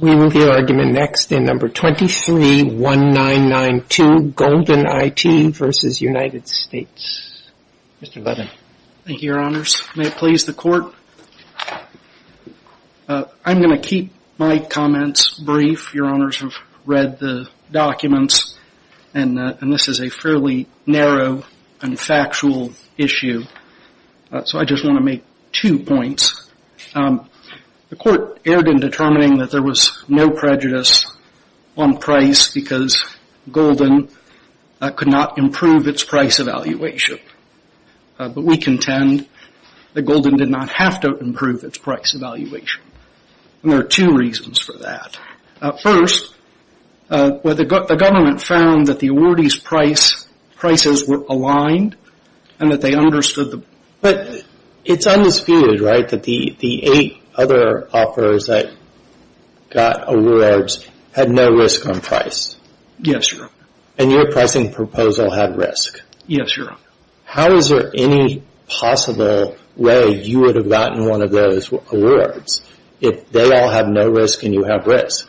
We move the argument next in number 23-1992, Golden IT v. United States. Mr. Levin. Thank you, Your Honors. May it please the Court? I'm going to keep my comments brief. Your Honors have read the documents, and this is a fairly narrow and factual issue, so I just want to make two points. The Court erred in determining that there was no prejudice on price because Golden could not improve its price evaluation. But we contend that Golden did not have to improve its price evaluation, and there are two reasons for that. First, the government found that the awardees' prices were aligned and that they understood the... But it's undisputed, right, that the eight other offers that got awards had no risk on price? Yes, Your Honor. And your pricing proposal had risk? Yes, Your Honor. How is there any possible way you would have gotten one of those awards if they all had no risk and you have risk?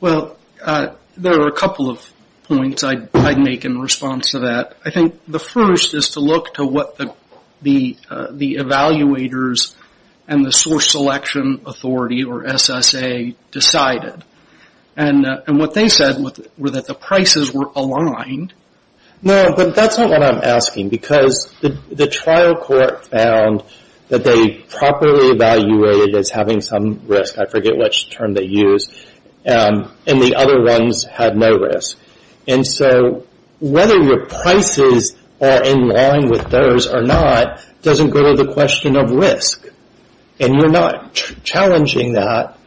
Well, there are a couple of points I'd make in response to that. I think the first is to look to what the evaluators and the Source Selection Authority, or SSA, decided. And what they said was that the prices were aligned. No, but that's not what I'm asking because the trial court found that they properly evaluated as having some risk. I forget which term they used. And the other ones had no risk. And so whether your prices are in line with those or not doesn't go to the question of risk, and you're not challenging that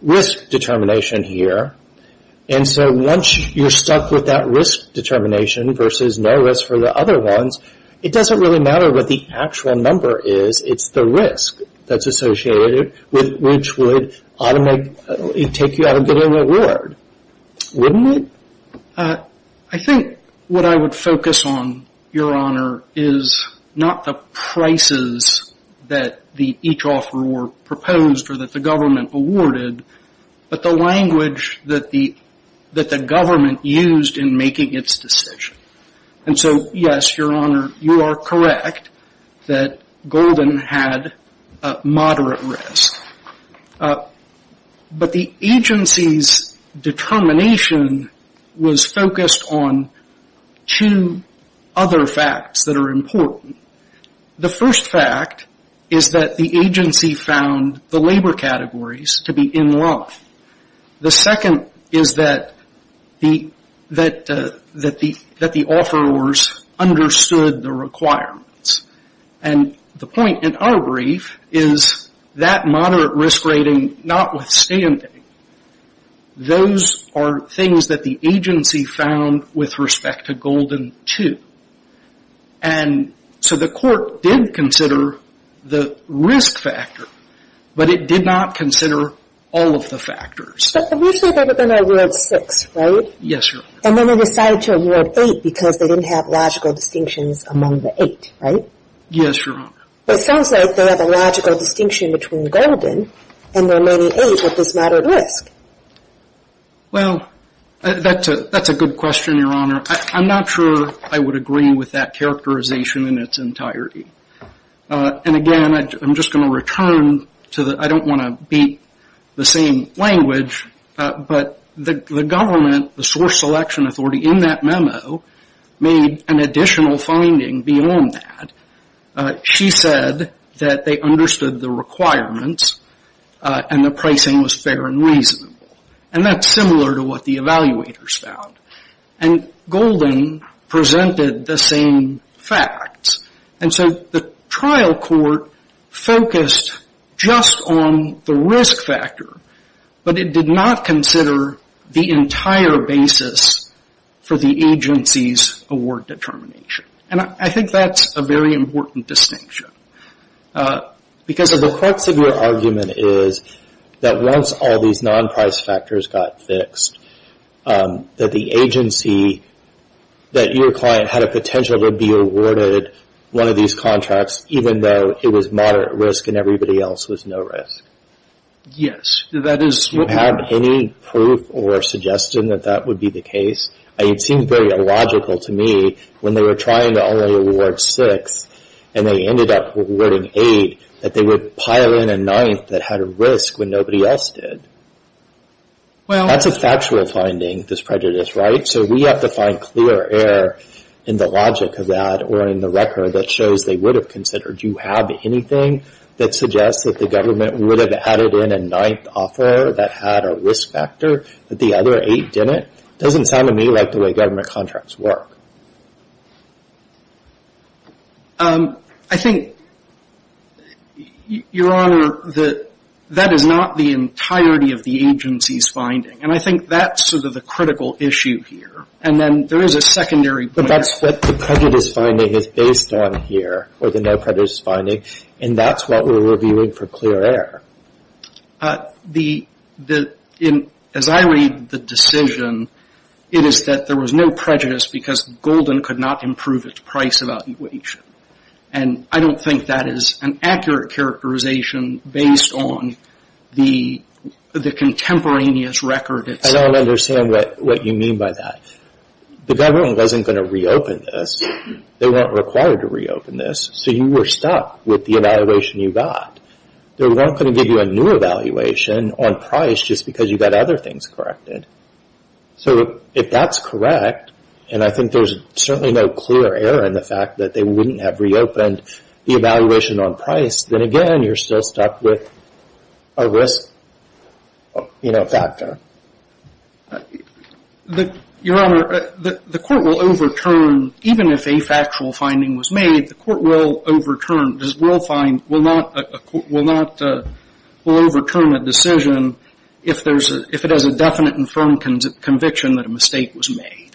risk determination here. And so once you're stuck with that risk determination versus no risk for the other ones, it doesn't really matter what the actual number is. It's the risk that's associated with which would take you out of getting an award, wouldn't it? I think what I would focus on, Your Honor, is not the prices that each offeror proposed or that the government awarded, but the language that the government used in making its decision. And so, yes, Your Honor, you are correct that Golden had moderate risk. But the agency's determination was focused on two other facts that are important. The first fact is that the agency found the labor categories to be in line. The second is that the offerors understood the requirements. And the point in our brief is that moderate risk rating notwithstanding, those are things that the agency found with respect to Golden, too. And so the court did consider the risk factor, but it did not consider all of the factors. But originally there would have been an award of six, right? Yes, Your Honor. And then they decided to award eight because they didn't have logical distinctions among the eight, right? Yes, Your Honor. But it sounds like they have a logical distinction between Golden and the remaining eight with this moderate risk. Well, that's a good question, Your Honor. I'm not sure I would agree with that characterization in its entirety. And, again, I'm just going to return to the, I don't want to beat the same language, but the government, the source selection authority in that memo, made an additional finding beyond that. She said that they understood the requirements and the pricing was fair and reasonable. And that's similar to what the evaluators found. And Golden presented the same facts. And so the trial court focused just on the risk factor, but it did not consider the entire basis for the agency's award determination. And I think that's a very important distinction. Because of the court's argument is that once all these non-price factors got fixed, that the agency, that your client had a potential to be awarded one of these contracts, even though it was moderate risk and everybody else was no risk. Yes, that is correct. Do you have any proof or suggestion that that would be the case? It seemed very illogical to me when they were trying to only award six and they ended up awarding eight that they would pile in a ninth that had a risk when nobody else did. That's a factual finding, this prejudice, right? So we have to find clear error in the logic of that or in the record that shows they would have considered. Do you have anything that suggests that the government would have added in a ninth offer that had a risk factor, but the other eight didn't? It doesn't sound to me like the way government contracts work. I think, Your Honor, that that is not the entirety of the agency's finding. And I think that's sort of the critical issue here. And then there is a secondary point. But that's what the prejudice finding is based on here, or the no prejudice finding. And that's what we're reviewing for clear error. As I read the decision, it is that there was no prejudice because Golden could not improve its price evaluation. And I don't think that is an accurate characterization based on the contemporaneous record itself. I don't understand what you mean by that. The government wasn't going to reopen this. They weren't required to reopen this. So you were stuck with the evaluation you got. They weren't going to give you a new evaluation on price just because you got other things corrected. So if that's correct, and I think there's certainly no clear error in the fact that they wouldn't have reopened the evaluation on price, then, again, you're still stuck with a risk factor. Your Honor, the Court will overturn, even if a factual finding was made, the Court will overturn, will overturn a decision if it has a definite and firm conviction that a mistake was made.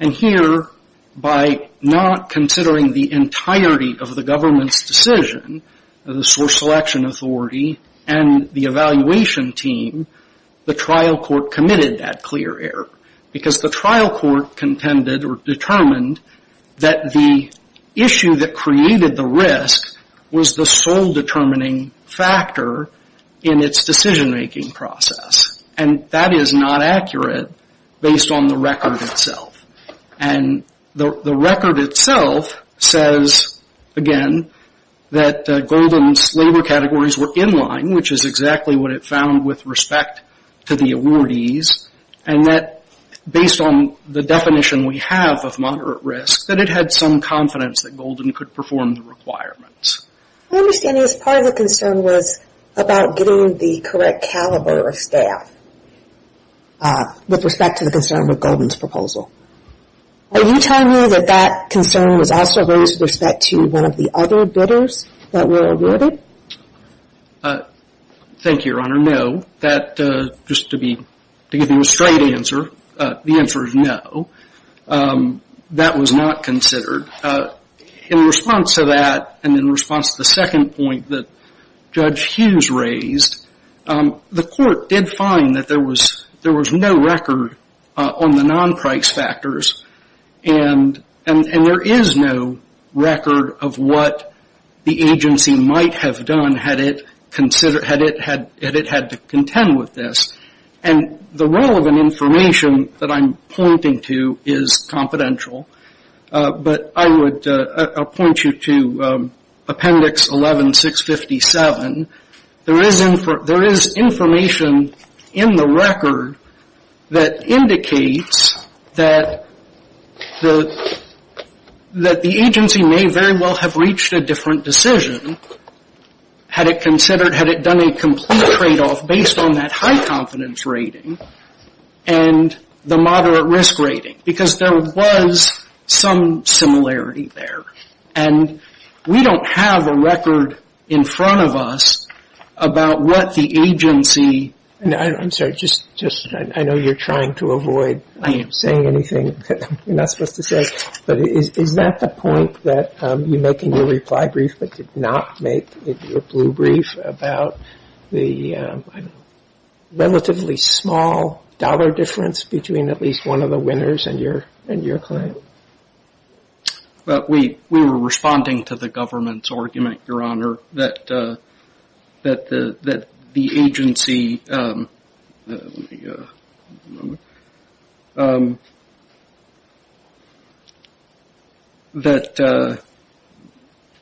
And here, by not considering the entirety of the government's decision, the source selection authority, and the evaluation team, the trial court committed that clear error. Because the trial court contended or determined that the issue that created the risk was the sole determining factor in its decision-making process. And that is not accurate based on the record itself. And the record itself says, again, that Golden's labor categories were in line, which is exactly what it found with respect to the awardees. And that, based on the definition we have of moderate risk, that it had some confidence that Golden could perform the requirements. My understanding is part of the concern was about getting the correct caliber of staff with respect to the concern with Golden's proposal. Are you telling me that that concern was also raised with respect to one of the other bidders that were awarded? Thank you, Your Honor. No. Just to give you a straight answer, the answer is no. That was not considered. In response to that, and in response to the second point that Judge Hughes raised, the court did find that there was no record on the non-price factors. And there is no record of what the agency might have done had it had to contend with this. And the relevant information that I'm pointing to is confidential. But I would point you to Appendix 11657. There is information in the record that indicates that the agency may very well have reached a different decision had it considered, had it done a complete tradeoff based on that high confidence rating and the moderate risk rating, because there was some similarity there. And we don't have the record in front of us about what the agency. I'm sorry. I know you're trying to avoid saying anything that you're not supposed to say. But is that the point that you make in your reply brief but did not make in your blue brief about the relatively small dollar difference between at least one of the winners and your client? We were responding to the government's argument, Your Honor, that the agency, that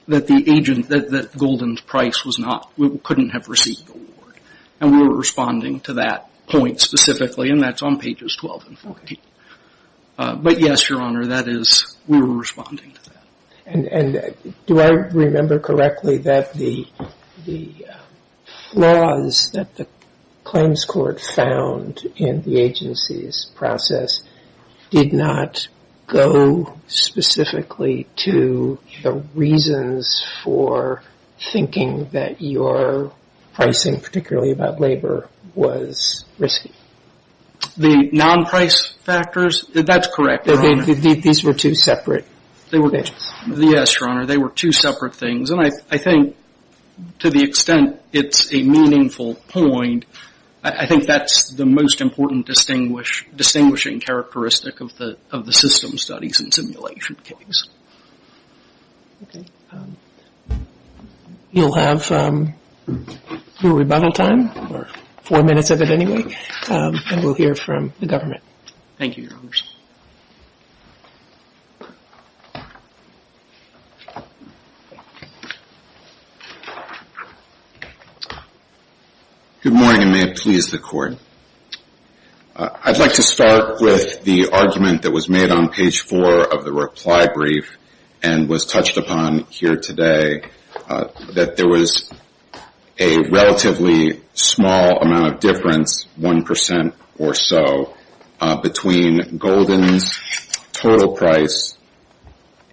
the agent, that Golden's price was not, we couldn't have received the award. And we were responding to that point specifically and that's on pages 12 and 14. But yes, Your Honor, that is, we were responding to that. And do I remember correctly that the flaws that the claims court found in the agency's process did not go specifically to the reasons for thinking that your pricing, particularly about labor, was risky? The non-price factors, that's correct, Your Honor. These were two separate pages. Yes, Your Honor, they were two separate things. And I think to the extent it's a meaningful point, I think that's the most important distinguishing characteristic of the system studies and simulation case. Okay. You'll have your rebuttal time, or four minutes of it anyway, and we'll hear from the government. Thank you, Your Honors. Good morning and may it please the Court. I'd like to start with the argument that was made on page four of the reply brief and was touched upon here today, that there was a relatively small amount of difference, one percent or so, between Golden's total price,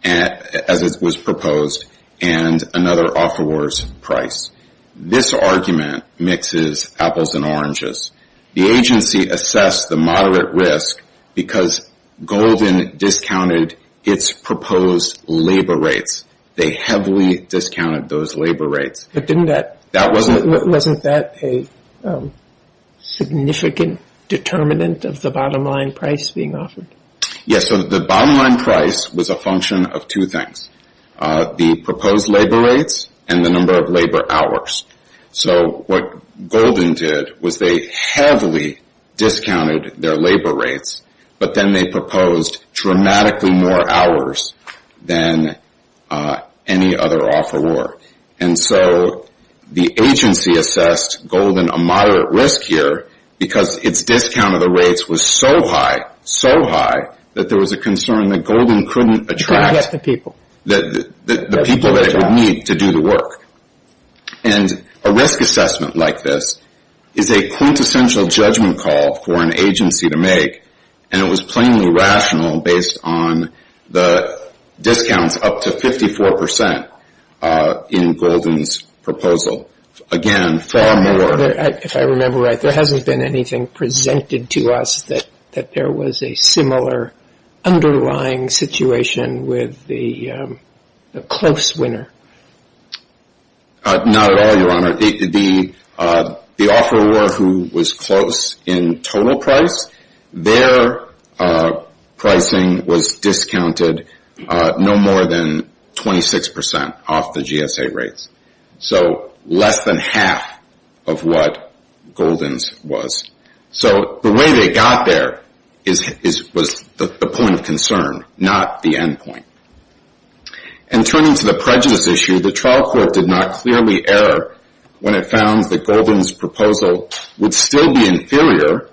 as it was proposed, and another offeror's price. This argument mixes apples and oranges. The agency assessed the moderate risk because Golden discounted its proposed labor rates. They heavily discounted those labor rates. But wasn't that a significant determinant of the bottom line price being offered? Yes, so the bottom line price was a function of two things, the proposed labor rates and the number of labor hours. So what Golden did was they heavily discounted their labor rates, but then they proposed dramatically more hours than any other offeror. And so the agency assessed Golden a moderate risk here because its discount of the rates was so high, that there was a concern that Golden couldn't attract the people that it would need to do the work. And a risk assessment like this is a quintessential judgment call for an agency to make, and it was plainly rational based on the discounts up to 54 percent in Golden's proposal. If I remember right, there hasn't been anything presented to us that there was a similar underlying situation with the close winner. Not at all, Your Honor. The offeror who was close in total price, their pricing was discounted no more than 26 percent off the GSA rates. So less than half of what Golden's was. So the way they got there was the point of concern, not the end point. And turning to the prejudice issue, the trial court did not clearly err when it found that Golden's proposal would still be inferior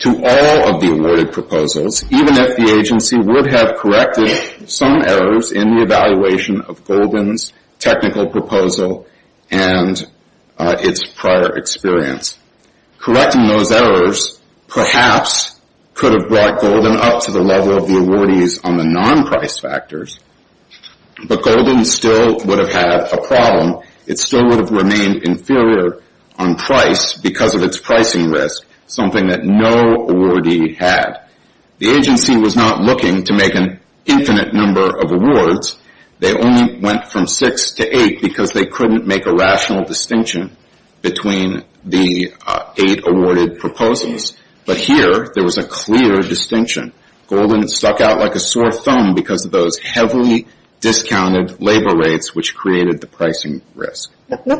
to all of the awarded proposals, even if the agency would have corrected some errors in the evaluation of Golden's technical proposal and its prior experience. Correcting those errors perhaps could have brought Golden up to the level of the awardees on the non-price factors, but Golden still would have had a problem. It still would have remained inferior on price because of its pricing risk, something that no awardee had. The agency was not looking to make an infinite number of awards. They only went from six to eight because they couldn't make a rational distinction between the eight awarded proposals. But here there was a clear distinction. Golden stuck out like a sore thumb because of those heavily discounted labor rates, which created the pricing risk.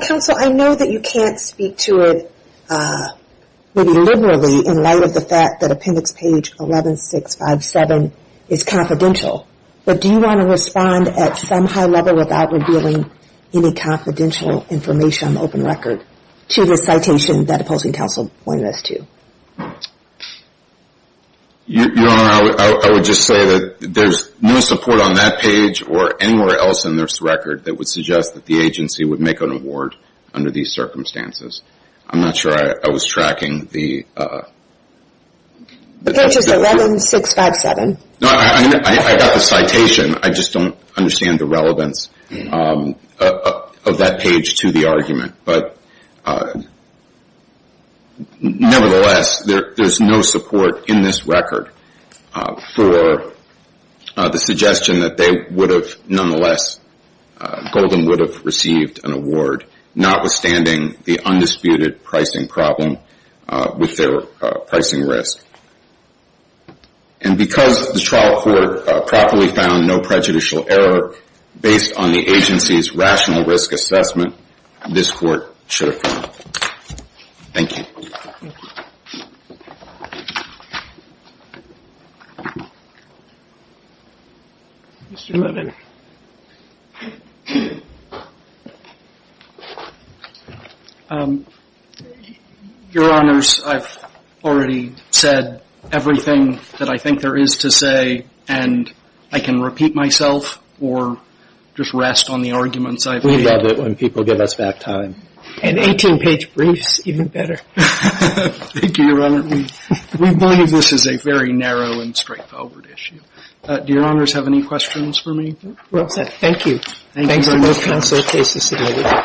Counsel, I know that you can't speak to it, maybe liberally, in light of the fact that appendix page 11657 is confidential, but do you want to respond at some high level without revealing any confidential information on the open record to the citation that opposing counsel pointed us to? Your Honor, I would just say that there's no support on that page or anywhere else in this record that would suggest that the agency would make an award under these circumstances. I'm not sure I was tracking the... The page is 11657. I got the citation. I just don't understand the relevance of that page to the argument. But nevertheless, there's no support in this record for the suggestion that they would have, nonetheless, Golden would have received an award, notwithstanding the undisputed pricing problem with their pricing risk. And because the trial court properly found no prejudicial error based on the agency's rational risk assessment, this court should have found it. Thank you. Mr. Levin. Your Honors, I've already said everything that I think there is to say, and I can repeat myself or just rest on the arguments I've made. We love it when people give us back time. And 18-page briefs, even better. Thank you, Your Honor. We believe this is a very narrow and straightforward issue. Do Your Honors have any questions for me? Well said. Thank you. Thanks to both counsel and cases today.